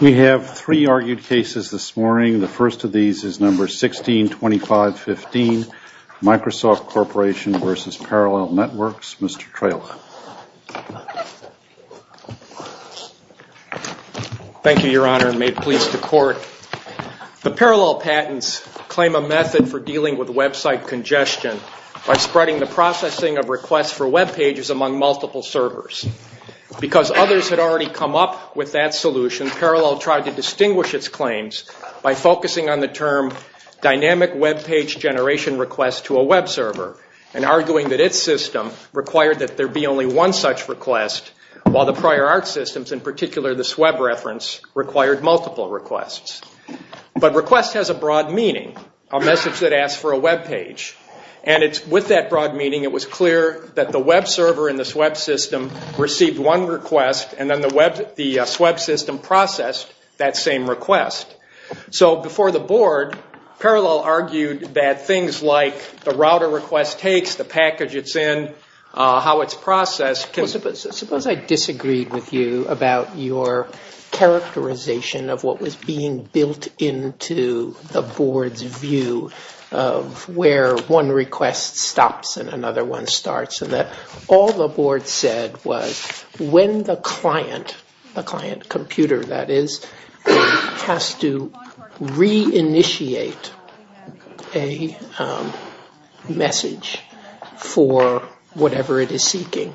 We have three argued cases this morning. The first of these is number 162515, Microsoft Corporation v. Parallel Networks. Mr. Traylor. Thank you, Your Honor, and may it please the Court. The parallel patents claim a method for dealing with website congestion by spreading the processing of requests for webpages among multiple servers. Because others had already come up with that solution, Parallel tried to distinguish its claims by focusing on the term dynamic webpage generation request to a web server and arguing that its system required that there be only one such request, while the prior art systems, in particular the SWEB reference, required multiple requests. But request has a broad meaning, a message that asks for a webpage. And with that broad meaning, it was clear that the web server in the SWEB system received one request and then the SWEB system processed that same request. So before the Board, Parallel argued that things like the router request takes, the package it's in, how it's processed can Suppose I disagreed with you about your characterization of what was being built into the Board's view of where one request stops and another one starts. All the Board said was when the client, the client computer that is, has to reinitiate a message for whatever it is seeking,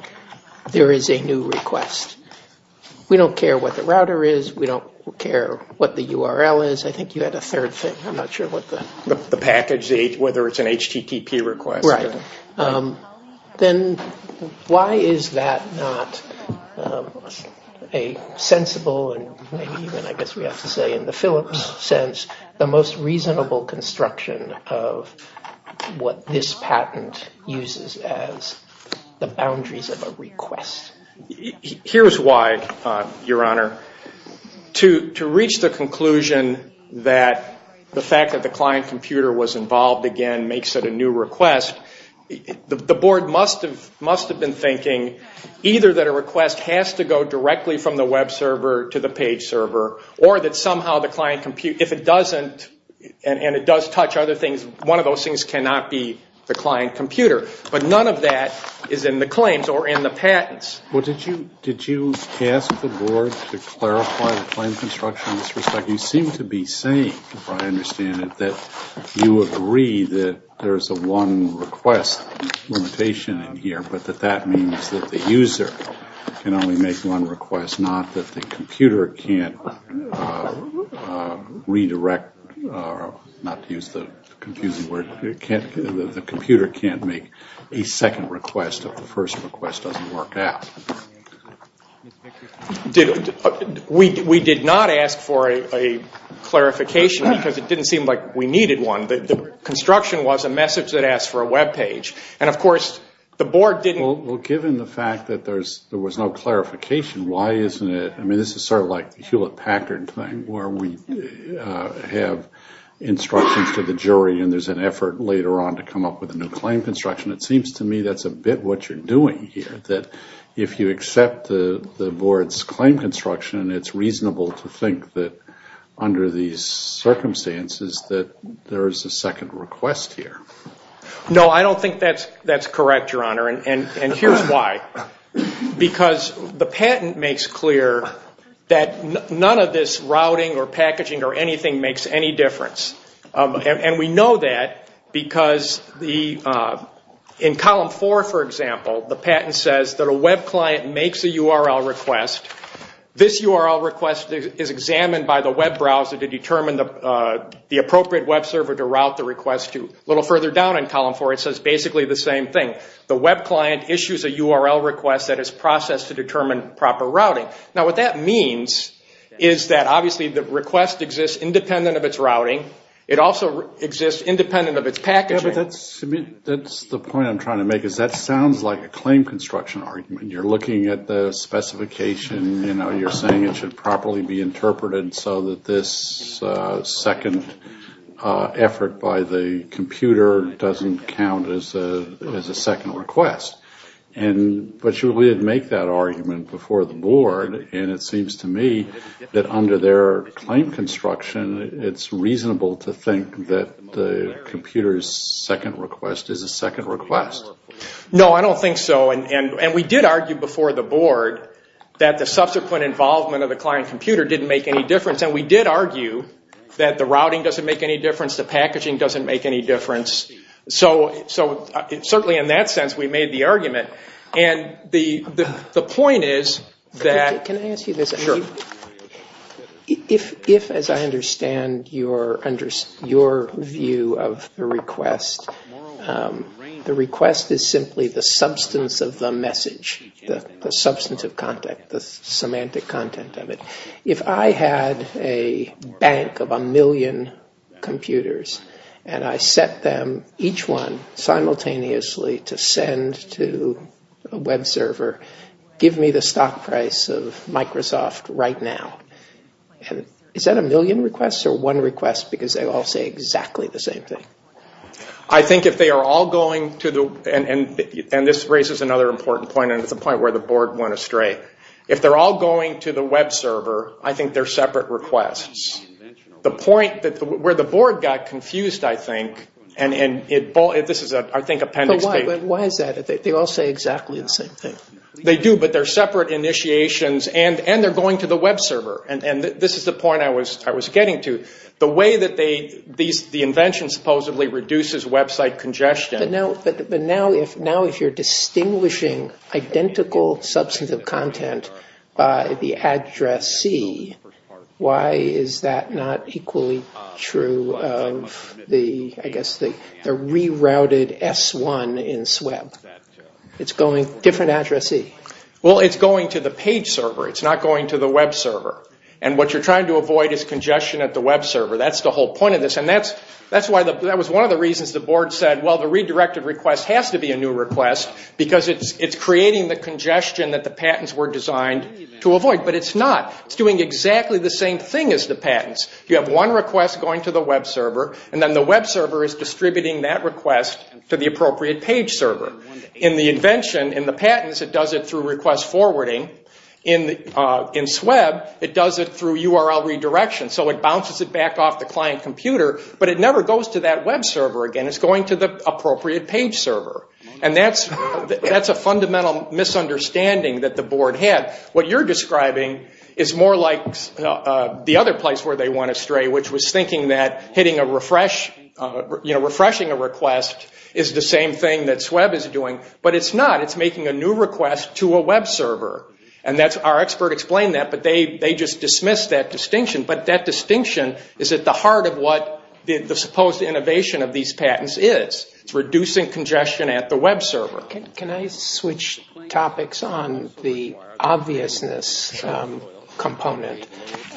there is a new request. We don't care what the router is. We don't care what the URL is. I think you had a third thing. I'm not sure what that was. The package, whether it's an HTTP request. Right. Then why is that not a sensible, and I guess we have to say in the Phillips sense, the most reasonable construction of what this patent uses as the boundaries of a request? Here's why, Your Honor. To reach the conclusion that the fact that the client computer was involved again makes it a new request, the Board must have been thinking either that a request has to go directly from the web server to the page server or that somehow the client computer, if it doesn't, and it does touch other things, one of those things cannot be the client computer. But none of that is in the claims or in the patents. Well, did you ask the Board to clarify the claim construction in this respect? You seem to be saying, if I understand it, that you agree that there's a one request limitation in here, but that that means that the user can only make one request, not that the computer can't redirect, not to use the confusing word, the computer can't make a second request if the first request doesn't work out. We did not ask for a clarification because it didn't seem like we needed one. The construction was a message that asked for a web page. Well, given the fact that there was no clarification, why isn't it? I mean, this is sort of like the Hewlett-Packard thing where we have instructions to the jury and there's an effort later on to come up with a new claim construction. It seems to me that's a bit what you're doing here, that if you accept the Board's claim construction, it's reasonable to think that under these circumstances that there is a second request here. No, I don't think that's correct, Your Honor, and here's why. Because the patent makes clear that none of this routing or packaging or anything makes any difference. We know that because in Column 4, for example, the patent says that a web client makes a URL request. This URL request is examined by the web browser to determine the appropriate web server to route the request to. A little further down in Column 4, it says basically the same thing. The web client issues a URL request that is processed to determine proper routing. Now, what that means is that obviously the request exists independent of its routing. It also exists independent of its packaging. But that's the point I'm trying to make is that sounds like a claim construction argument. You're looking at the specification. You're saying it should properly be interpreted so that this second effort by the computer doesn't count as a second request. But you would make that argument before the board, and it seems to me that under their claim construction, it's reasonable to think that the computer's second request is a second request. No, I don't think so. And we did argue before the board that the subsequent involvement of the client computer didn't make any difference. And we did argue that the routing doesn't make any difference, the packaging doesn't make any difference. So certainly in that sense, we made the argument. And the point is that... Can I ask you this? Sure. If, as I understand your view of the request, the request is simply the substance of the message, the substance of content, the semantic content of it. If I had a bank of a million computers and I sent them each one simultaneously to send to a web server, give me the stock price of Microsoft right now. Is that a million requests or one request because they all say exactly the same thing? I think if they are all going to the... And this raises another important point, and it's a point where the board went astray. If they're all going to the web server, I think they're separate requests. The point where the board got confused, I think, and this is, I think, appendix B. But why is that? They all say exactly the same thing. They do, but they're separate initiations and they're going to the web server. And this is the point I was getting to. The way that the invention supposedly reduces website congestion... But now if you're distinguishing identical substance of content by the address C, why is that not equally true of the, I guess, the rerouted S1 in SWEB? It's going different address C. Well, it's going to the page server. It's not going to the web server. And what you're trying to avoid is congestion at the web server. That's the whole point of this. And that was one of the reasons the board said, well, the redirected request has to be a new request because it's creating the congestion that the patents were designed to avoid. But it's not. It's doing exactly the same thing as the patents. You have one request going to the web server, and then the web server is distributing that request to the appropriate page server. In the invention, in the patents, it does it through request forwarding. In SWEB, it does it through URL redirection. So it bounces it back off the client computer, but it never goes to that web server again. It's going to the appropriate page server. And that's a fundamental misunderstanding that the board had. What you're describing is more like the other place where they went astray, which was thinking that hitting a refresh, you know, refreshing a request is the same thing that SWEB is doing. But it's not. It's making a new request to a web server. And our expert explained that, but they just dismissed that distinction. But that distinction is at the heart of what the supposed innovation of these patents is. It's reducing congestion at the web server. Can I switch topics on the obviousness component?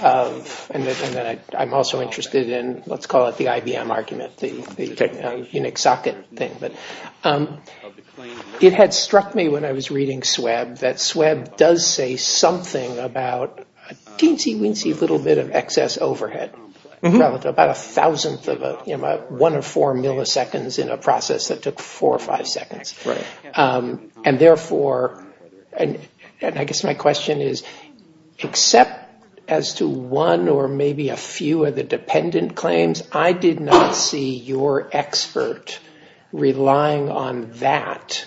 And I'm also interested in, let's call it the IBM argument, the Unix socket thing. It had struck me when I was reading SWEB that SWEB does say something about a teensy-weensy little bit of excess overhead. About a thousandth of a, you know, one of four milliseconds in a process that took four or five seconds. And therefore, and I guess my question is, except as to one or maybe a few of the dependent claims, I did not see your expert relying on that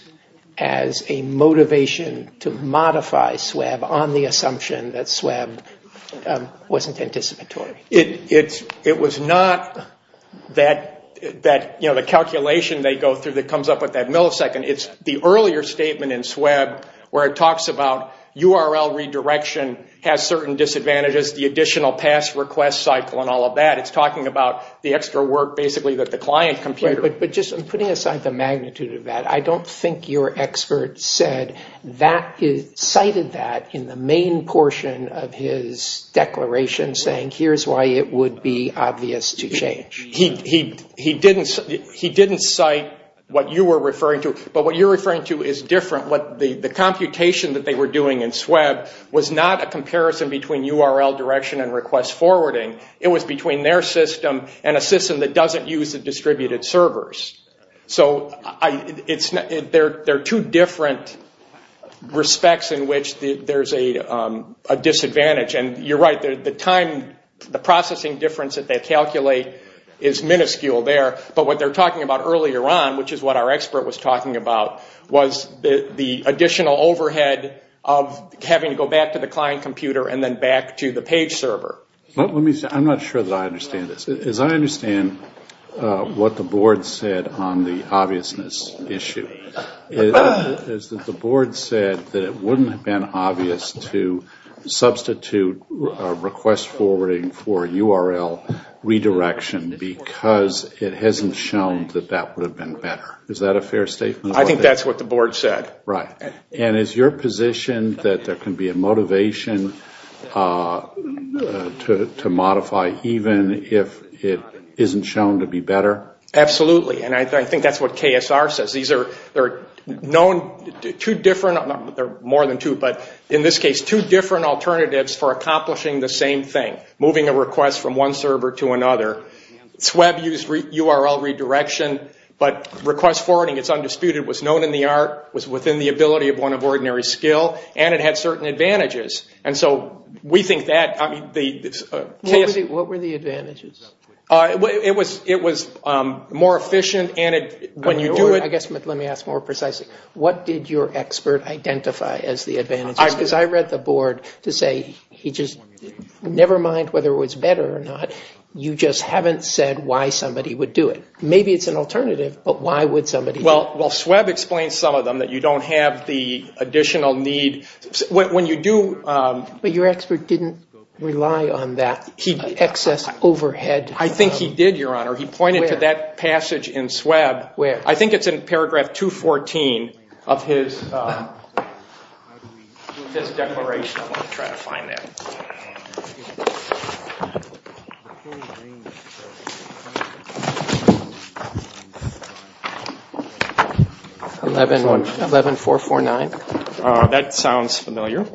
as a motivation to modify SWEB on the assumption that SWEB wasn't anticipatory. It was not that, you know, the calculation they go through that comes up with that millisecond. It's the earlier statement in SWEB where it talks about URL redirection has certain disadvantages, the additional pass request cycle and all of that. It's talking about the extra work basically that the client computer. But just putting aside the magnitude of that, I don't think your expert said that, cited that in the main portion of his declaration saying here's why it would be obvious to change. He didn't cite what you were referring to, but what you're referring to is different. The computation that they were doing in SWEB was not a comparison between URL direction and request forwarding. It was between their system and a system that doesn't use the distributed servers. So there are two different respects in which there's a disadvantage. And you're right, the processing difference that they calculate is minuscule there. But what they're talking about earlier on, which is what our expert was talking about, was the additional overhead of having to go back to the client computer and then back to the page server. Let me say, I'm not sure that I understand this. As I understand what the board said on the obviousness issue, is that the board said that it wouldn't have been obvious to substitute request forwarding for URL redirection because it hasn't shown that that would have been better. Is that a fair statement? I think that's what the board said. And is your position that there can be a motivation to modify even if it isn't shown to be better? Absolutely, and I think that's what KSR says. There are more than two, but in this case two different alternatives for accomplishing the same thing. Moving a request from one server to another. SWEB used URL redirection, but request forwarding, it's undisputed, was known in the art, was within the ability of one of ordinary skill, and it had certain advantages. And so we think that... What were the advantages? It was more efficient and when you do it... Let me ask more precisely. What did your expert identify as the advantages? Because I read the board to say, never mind whether it was better or not, you just haven't said why somebody would do it. Maybe it's an alternative, but why would somebody do it? Well, SWEB explains some of them, that you don't have the additional need. When you do... But your expert didn't rely on that excess overhead. I think he did, Your Honor. Where? He pointed to that passage in SWEB. Where? I think it's in paragraph 214 of his declaration. I'll try to find that. 11449. That sounds familiar.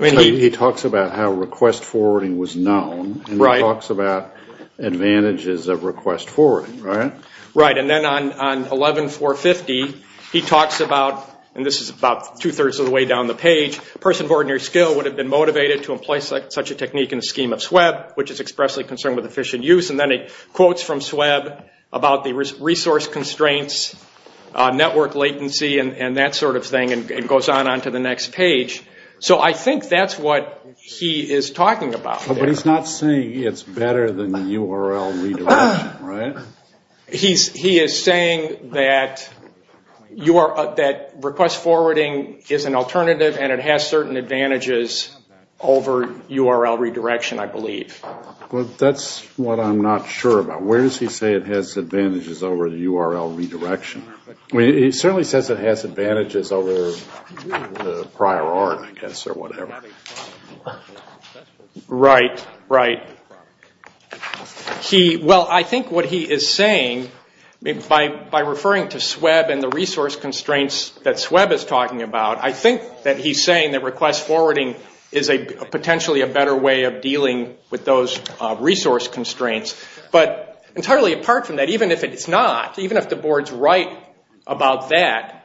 He talks about how request forwarding was known. Right. And he talks about advantages of request forwarding, right? Right. And then on 11450, he talks about, and this is about two-thirds of the way down the page, a person of ordinary skill would have been motivated to employ such a technique in a skilled manner. which is expressly concerned with efficient use. And then he quotes from SWEB about the resource constraints, network latency, and that sort of thing. And it goes on onto the next page. So I think that's what he is talking about. But he's not saying it's better than URL redirection, right? He is saying that request forwarding is an alternative and it has certain advantages over URL redirection, I believe. Well, that's what I'm not sure about. Where does he say it has advantages over URL redirection? He certainly says it has advantages over prior art, I guess, or whatever. Right, right. Well, I think what he is saying, by referring to SWEB and the resource constraints that SWEB is talking about, I think that he is saying that request forwarding is potentially a better way of dealing with those resource constraints. But entirely apart from that, even if it's not, even if the board is right about that,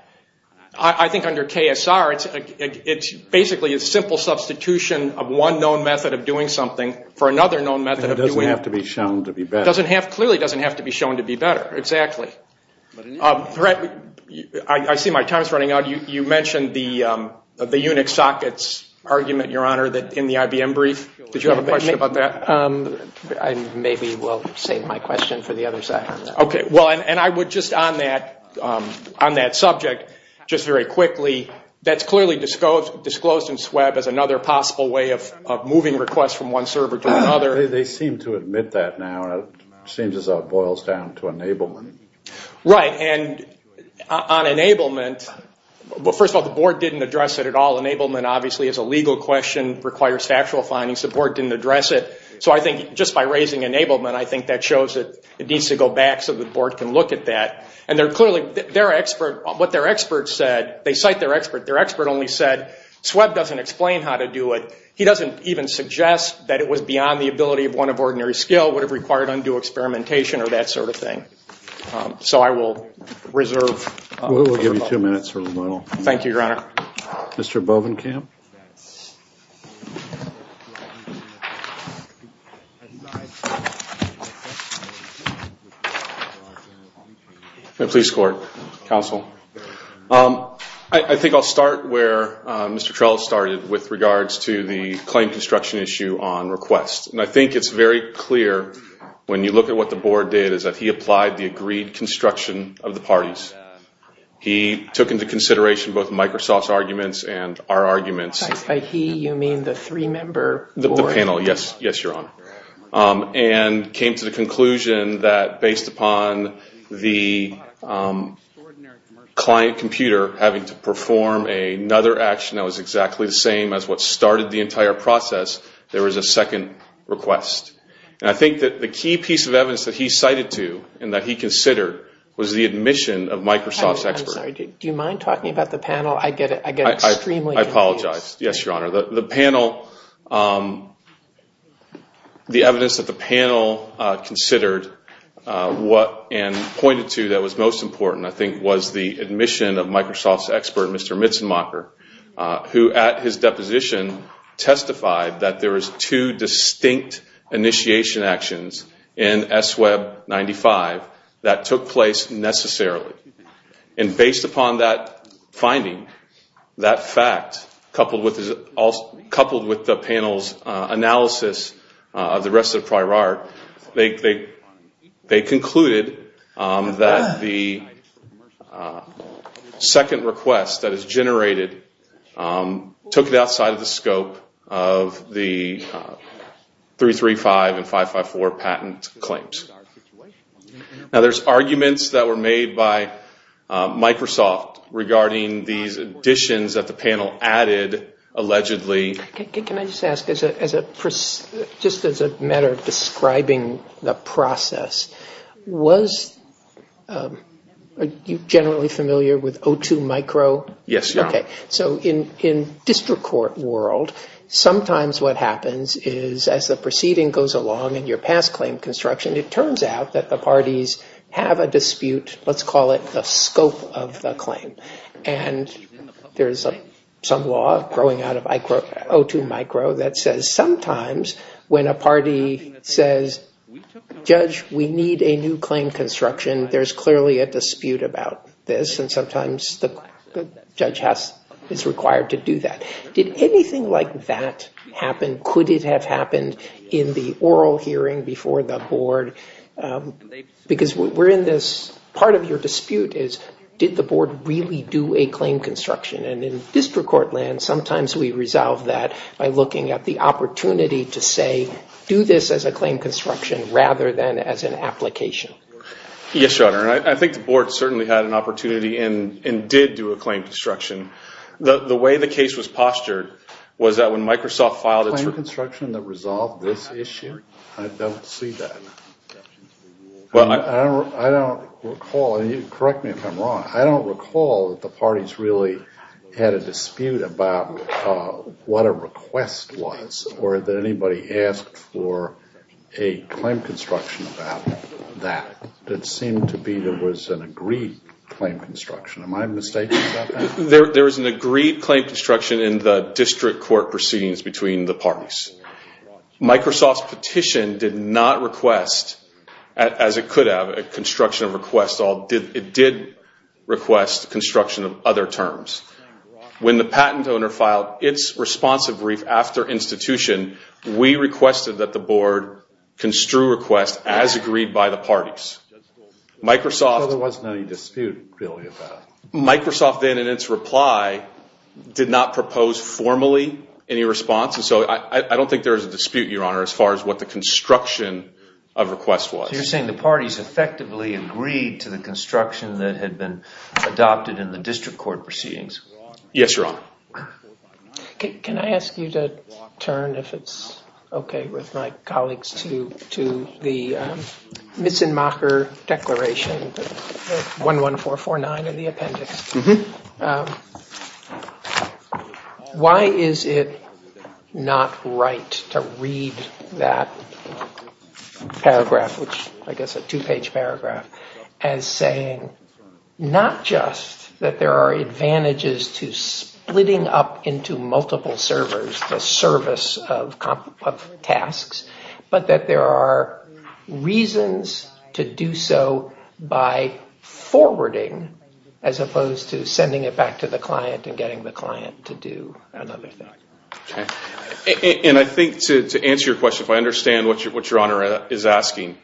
I think under KSR it's basically a simple substitution of one known method of doing something for another known method of doing it. It doesn't have to be shown to be better. It clearly doesn't have to be shown to be better, exactly. I see my time is running out. You mentioned the Unix sockets argument, Your Honor, in the IBM brief. Did you have a question about that? Maybe we'll save my question for the other side. Okay, well, and I would just on that subject, just very quickly, that's clearly disclosed in SWEB as another possible way of moving requests from one server to another. They seem to admit that now. It seems as though it boils down to enablement. Right, and on enablement, well, first of all, the board didn't address it at all. Enablement obviously is a legal question, requires factual findings. The board didn't address it. So I think just by raising enablement, I think that shows that it needs to go back so the board can look at that. And they're clearly, what their experts said, they cite their expert. Their expert only said SWEB doesn't explain how to do it. He doesn't even suggest that it was beyond the ability of one of ordinary skill, would have required undue experimentation or that sort of thing. So I will reserve. We'll give you two minutes for rebuttal. Thank you, Your Honor. Mr. Bovenkamp. Please, Court, Counsel. I think I'll start where Mr. Trell started with regards to the claim construction issue on requests. And I think it's very clear, when you look at what the board did, is that he applied the agreed construction of the parties. He took into consideration both Microsoft's arguments and our arguments. By he, you mean the three-member board? The panel, yes. Yes, Your Honor. And came to the conclusion that based upon the client computer having to perform another action that was exactly the same as what started the entire process, there was a second request. And I think that the key piece of evidence that he cited to and that he considered was the admission of Microsoft's expert. I'm sorry. Do you mind talking about the panel? I get extremely confused. I apologize. Yes, Your Honor. The panel, the evidence that the panel considered and pointed to that was most important, I think, was the admission of Microsoft's expert, Mr. Mitzemacher, who at his deposition testified that there was two distinct initiation actions in S-Web 95 that took place necessarily. And based upon that finding, that fact, coupled with the panel's analysis of the rest of the prior art, they concluded that the second request that is generated took it outside of the scope of the 335 and 554 patent claims. Now, there's arguments that were made by Microsoft regarding these additions that the panel added allegedly. Can I just ask, just as a matter of describing the process, was you generally familiar with O2 micro? Yes, Your Honor. Okay. So in district court world, sometimes what happens is as the proceeding goes along in your past claim construction, it turns out that the parties have a dispute, let's call it the scope of the claim. And there's some law growing out of O2 micro that says sometimes when a party says, Judge, we need a new claim construction, there's clearly a dispute about this. And sometimes the judge is required to do that. Did anything like that happen? Could it have happened in the oral hearing before the board? Because we're in this part of your dispute is did the board really do a claim construction? And in district court land, sometimes we resolve that by looking at the opportunity to say, do this as a claim construction rather than as an application. Yes, Your Honor. I think the board certainly had an opportunity and did do a claim construction. The way the case was postured was that when Microsoft filed its Was there a claim construction that resolved this issue? I don't see that. I don't recall, and correct me if I'm wrong, I don't recall that the parties really had a dispute about what a request was or that anybody asked for a claim construction about that. It seemed to be there was an agreed claim construction. Am I mistaken about that? There was an agreed claim construction in the district court proceedings between the parties. Microsoft's petition did not request, as it could have, a construction of requests. It did request construction of other terms. When the patent owner filed its responsive brief after institution, we requested that the board construe requests as agreed by the parties. So there wasn't any dispute really about it? Microsoft then, in its reply, did not propose formally any response, and so I don't think there was a dispute, Your Honor, as far as what the construction of requests was. So you're saying the parties effectively agreed to the construction that had been adopted in the district court proceedings? Yes, Your Honor. Can I ask you to turn, if it's okay with my colleagues, to the Misenmacher Declaration, 11449 in the appendix. Why is it not right to read that paragraph, which I guess is a two-page paragraph, as saying not just that there are advantages to splitting up into multiple servers to service of tasks, but that there are reasons to do so by forwarding as opposed to sending it back to the client and getting the client to do another thing? And I think to answer your question, if I understand what Your Honor is asking,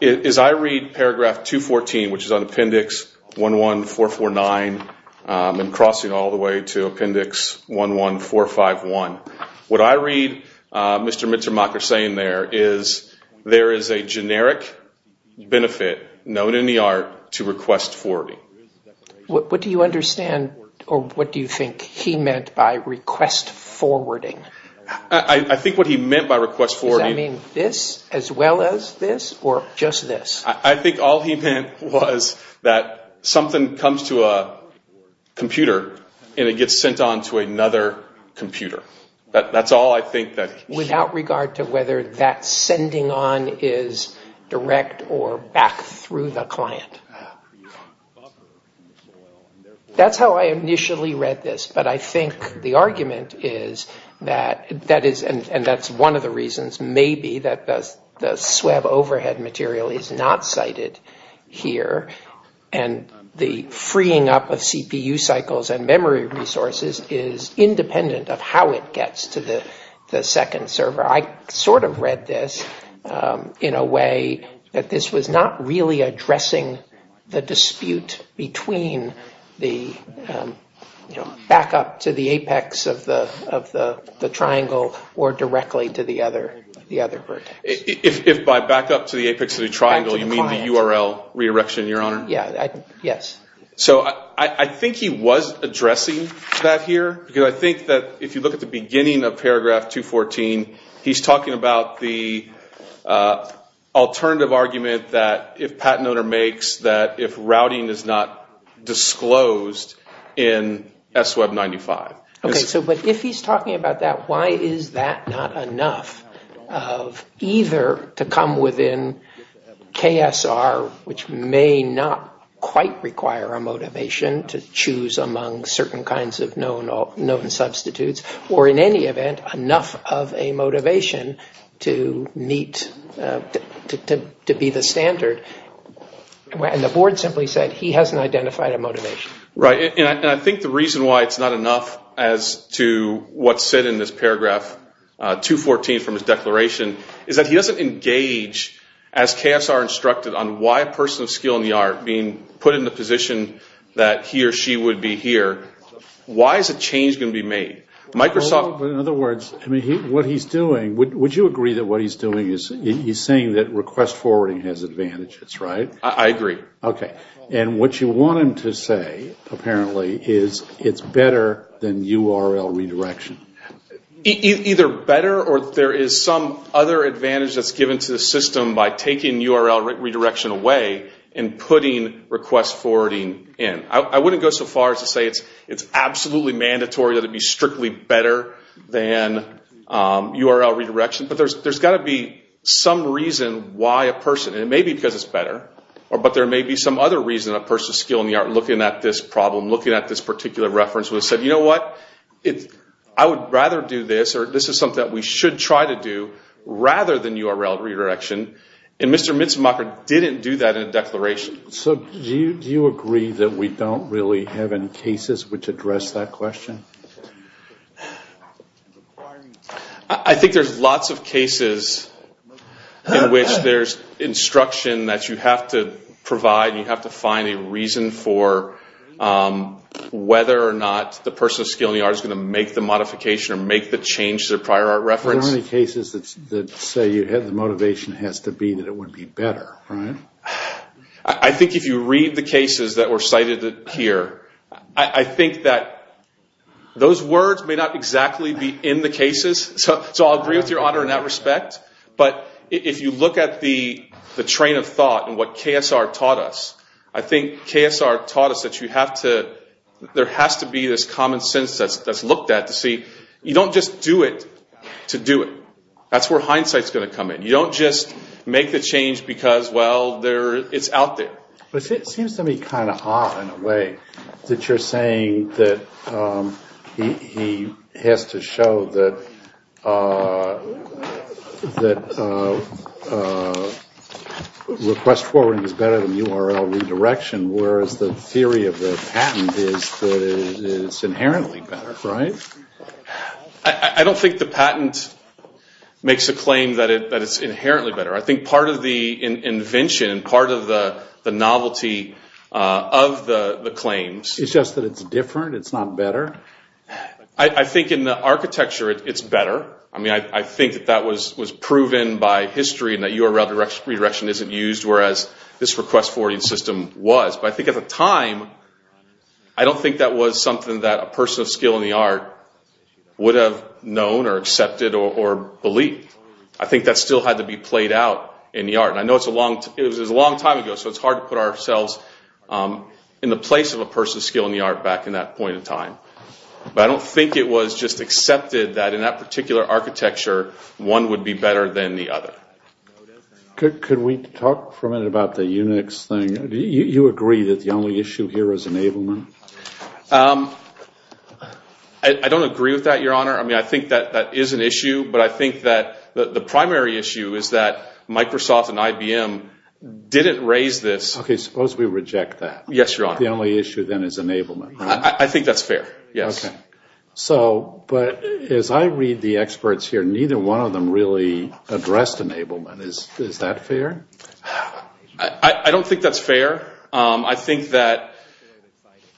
is I read paragraph 214, which is on appendix 11449, and crossing all the way to appendix 11451. What I read Mr. Misenmacher saying there is there is a generic benefit known in the art to request forwarding. What do you understand, or what do you think he meant by request forwarding? I think what he meant by request forwarding Does that mean this, as well as this, or just this? I think all he meant was that something comes to a computer and it gets sent on to another computer. That's all I think that he meant. Without regard to whether that sending on is direct or back through the client. That's how I initially read this, but I think the argument is that that is, and that's one of the reasons maybe that the SWEB overhead material is not cited here. And the freeing up of CPU cycles and memory resources is independent of how it gets to the second server. I sort of read this in a way that this was not really addressing the dispute between the backup to the apex of the triangle or directly to the other vertex. If by backup to the apex of the triangle you mean the URL redirection, Your Honor? Yes. So I think he was addressing that here, because I think that if you look at the beginning of paragraph 214, he's talking about the alternative argument that if patent owner makes that if routing is not disclosed in SWEB 95. Okay, but if he's talking about that, why is that not enough of either to come within KSR, which may not quite require a motivation to choose among certain kinds of known substitutes, or in any event enough of a motivation to meet, to be the standard. And the board simply said he hasn't identified a motivation. Right. And I think the reason why it's not enough as to what's said in this paragraph 214 from his declaration, is that he doesn't engage as KSR instructed on why a person of skill in the art being put in the position that he or she would be here. Why is a change going to be made? In other words, what he's doing, would you agree that what he's doing, he's saying that request forwarding has advantages, right? I agree. Okay. And what you want him to say, apparently, is it's better than URL redirection. Either better or there is some other advantage that's given to the system by taking URL redirection away and putting request forwarding in. I wouldn't go so far as to say it's absolutely mandatory that it be strictly better than URL redirection, but there's got to be some reason why a person, and it may be because it's better, but there may be some other reason a person of skill in the art looking at this problem, looking at this particular reference would have said, you know what, I would rather do this, or this is something that we should try to do, rather than URL redirection. And Mr. Mitzemacher didn't do that in a declaration. So do you agree that we don't really have any cases which address that question? I think there's lots of cases in which there's instruction that you have to provide and you have to find a reason for whether or not the person of skill in the art is going to make the modification or make the change to their prior art reference. There aren't any cases that say the motivation has to be that it would be better, right? I think if you read the cases that were cited here, I think that those words may not exactly be in the cases, so I'll agree with your honor in that respect, but if you look at the train of thought and what KSR taught us, I think KSR taught us that there has to be this common sense that's looked at to see, you don't just do it to do it. That's where hindsight's going to come in. You don't just make the change because, well, it's out there. It seems to me kind of odd in a way that you're saying that he has to show that request forwarding is better than URL redirection, whereas the theory of the patent is that it's inherently better, right? I don't think the patent makes a claim that it's inherently better. I think part of the invention, part of the novelty of the claims— It's just that it's different, it's not better? I think in the architecture, it's better. I mean, I think that that was proven by history and that URL redirection isn't used, whereas this request forwarding system was, but I think at the time, I don't think that was something that a person of skill in the art would have known or accepted or believed. I think that still had to be played out in the art. I know it was a long time ago, so it's hard to put ourselves in the place of a person of skill in the art back in that point in time. But I don't think it was just accepted that in that particular architecture, one would be better than the other. Could we talk for a minute about the Unix thing? Do you agree that the only issue here is enablement? I don't agree with that, Your Honor. I mean, I think that that is an issue, but I think that the primary issue is that Microsoft and IBM didn't raise this— Okay, suppose we reject that. Yes, Your Honor. The only issue then is enablement, right? I think that's fair, yes. Okay. But as I read the experts here, neither one of them really addressed enablement. Is that fair? I don't think that's fair. I think that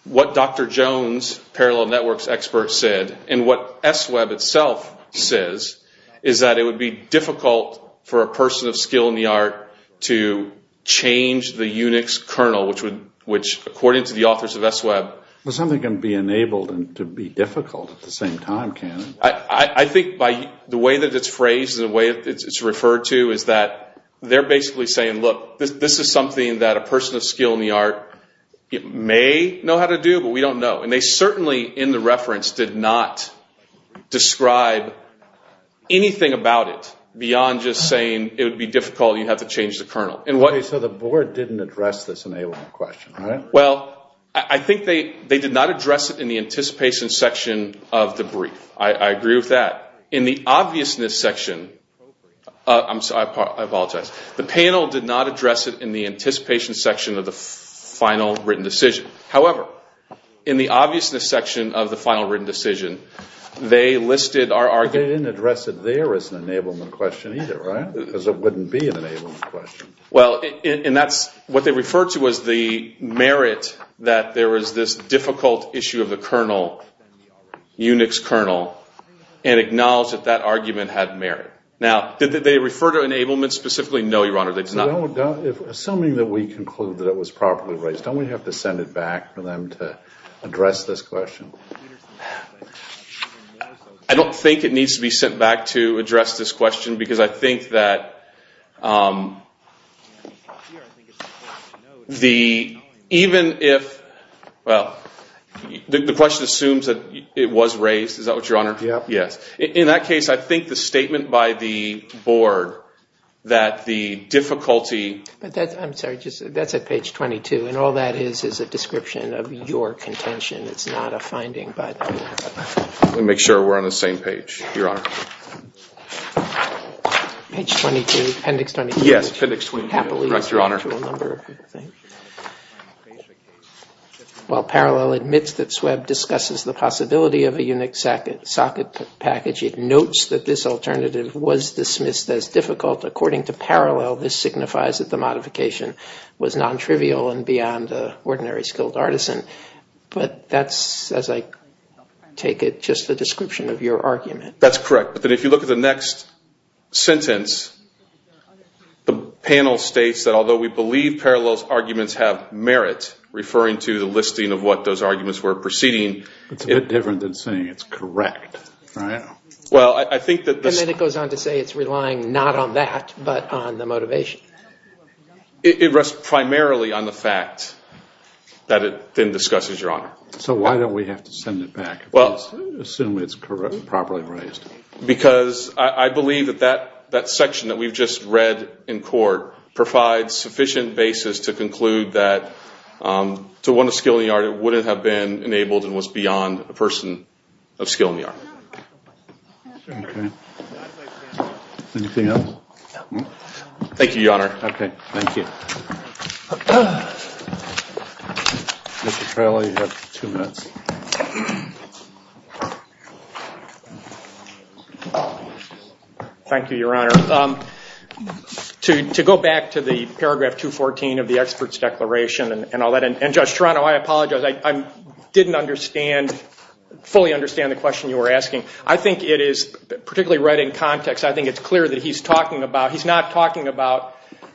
what Dr. Jones, Parallel Network's expert, said, and what S-Web itself says, is that it would be difficult for a person of skill in the art to change the Unix kernel, which according to the authors of S-Web— But something can be enabled and to be difficult at the same time, can't it? I think by the way that it's phrased and the way it's referred to is that they're basically saying, look, this is something that a person of skill in the art may know how to do, but we don't know. And they certainly in the reference did not describe anything about it beyond just saying it would be difficult, you'd have to change the kernel. So the board didn't address this enablement question, right? Well, I think they did not address it in the anticipation section of the brief. I agree with that. In the obviousness section—I apologize. The panel did not address it in the anticipation section of the final written decision. However, in the obviousness section of the final written decision, they listed our argument— They didn't address it there as an enablement question either, right? Because it wouldn't be an enablement question. Well, and that's what they referred to as the merit that there was this difficult issue of the kernel, Unix kernel, and acknowledged that that argument had merit. Now, did they refer to enablement specifically? No, Your Honor. Assuming that we conclude that it was properly raised, don't we have to send it back for them to address this question? I don't think it needs to be sent back to address this question because I think that even if— well, the question assumes that it was raised. Is that what, Your Honor? Yes. In that case, I think the statement by the board that the difficulty— I'm sorry. That's at page 22, and all that is is a description of your contention. It's not a finding, but— Let me make sure we're on the same page, Your Honor. Page 22, appendix 22. Yes, appendix 22, Your Honor. Well, Parallel admits that Swebb discusses the possibility of a Unix socket package. It notes that this alternative was dismissed as difficult. According to Parallel, this signifies that the modification was nontrivial and beyond ordinary skilled artisan. But that's, as I take it, just a description of your argument. That's correct. But if you look at the next sentence, the panel states that although we believe Parallel's arguments have merit, referring to the listing of what those arguments were preceding— It's a bit different than saying it's correct, right? Well, I think that— And then it goes on to say it's relying not on that, but on the motivation. It rests primarily on the fact that it then discusses, Your Honor. So why don't we have to send it back? Well— Assume it's properly raised. Because I believe that that section that we've just read in court provides sufficient basis to conclude that to one of skilled in the art, it wouldn't have been enabled and was beyond a person of skill in the art. Okay. Anything else? Thank you, Your Honor. Okay, thank you. Mr. Crowley, you have two minutes. Thank you, Your Honor. To go back to the paragraph 214 of the expert's declaration, and I'll let— And, Judge Toronto, I apologize. I didn't fully understand the question you were asking. I think it is, particularly right in context, I think it's clear that he's talking about—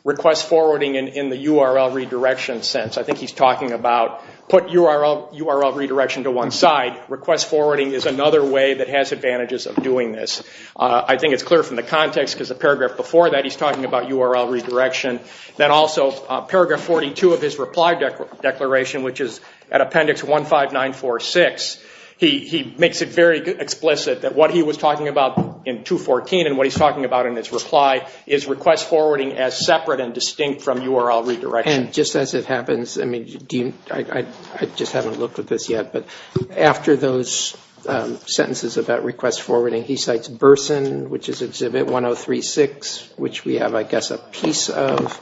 in the URL redirection sense. I think he's talking about put URL redirection to one side. Request forwarding is another way that has advantages of doing this. I think it's clear from the context because the paragraph before that, he's talking about URL redirection. Then also, paragraph 42 of his reply declaration, which is at appendix 15946, he makes it very explicit that what he was talking about in 214 and what he's talking about in his reply is request forwarding as separate and distinct from URL redirection. And just as it happens, I mean, I just haven't looked at this yet, but after those sentences about request forwarding, he cites Burson, which is exhibit 1036, which we have, I guess, a piece of.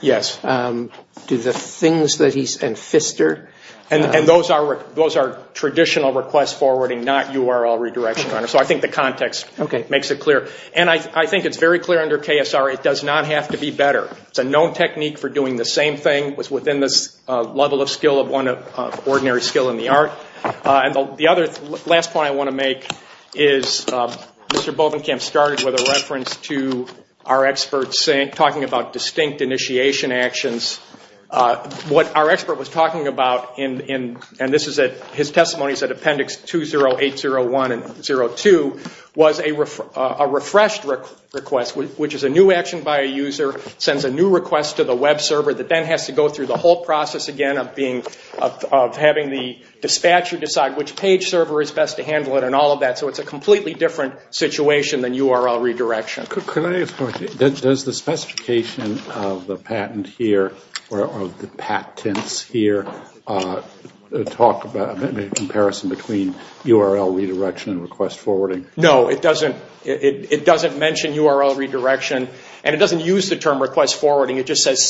Do the things that he's—and Pfister. And those are traditional request forwarding, not URL redirection, Your Honor. So I think the context makes it clear. And I think it's very clear under KSR it does not have to be better. It's a known technique for doing the same thing. It was within this level of skill of ordinary skill in the art. And the other last point I want to make is Mr. Bovenkamp started with a reference to our experts talking about distinct initiation actions. What our expert was talking about, and this is at—his testimony is at appendix 20801 and 02, was a refreshed request, which is a new action by a user, sends a new request to the web server that then has to go through the whole process again of having the dispatcher decide which page server is best to handle it and all of that. So it's a completely different situation than URL redirection. Can I ask a question? Does the specification of the patent here or of the patents here talk about a comparison between URL redirection and request forwarding? No, it doesn't mention URL redirection. And it doesn't use the term request forwarding. It just says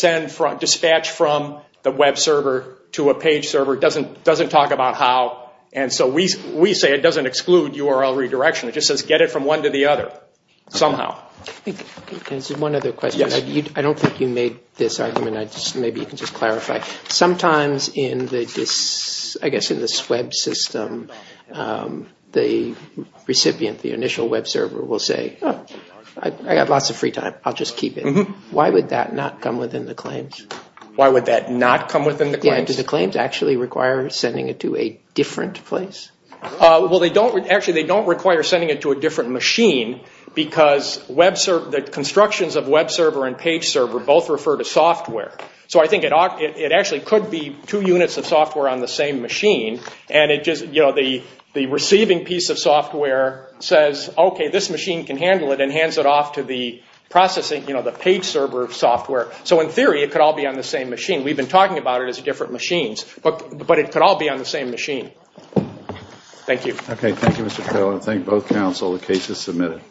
dispatch from the web server to a page server. It doesn't talk about how. And so we say it doesn't exclude URL redirection. It just says get it from one to the other somehow. One other question. I don't think you made this argument. Maybe you can just clarify. Sometimes in this web system, the recipient, the initial web server, will say, oh, I've got lots of free time. I'll just keep it. Why would that not come within the claims? Why would that not come within the claims? Yeah, do the claims actually require sending it to a different place? Well, they don't. Actually, they don't require sending it to a different machine because the constructions of web server and page server both refer to software. So I think it actually could be two units of software on the same machine. And it just, you know, the receiving piece of software says, okay, this machine can handle it and hands it off to the processing, you know, the page server software. So in theory, it could all be on the same machine. We've been talking about it as different machines. But it could all be on the same machine. Thank you. Okay. Thank you, Mr. Taylor. I thank both counsel. The case is submitted.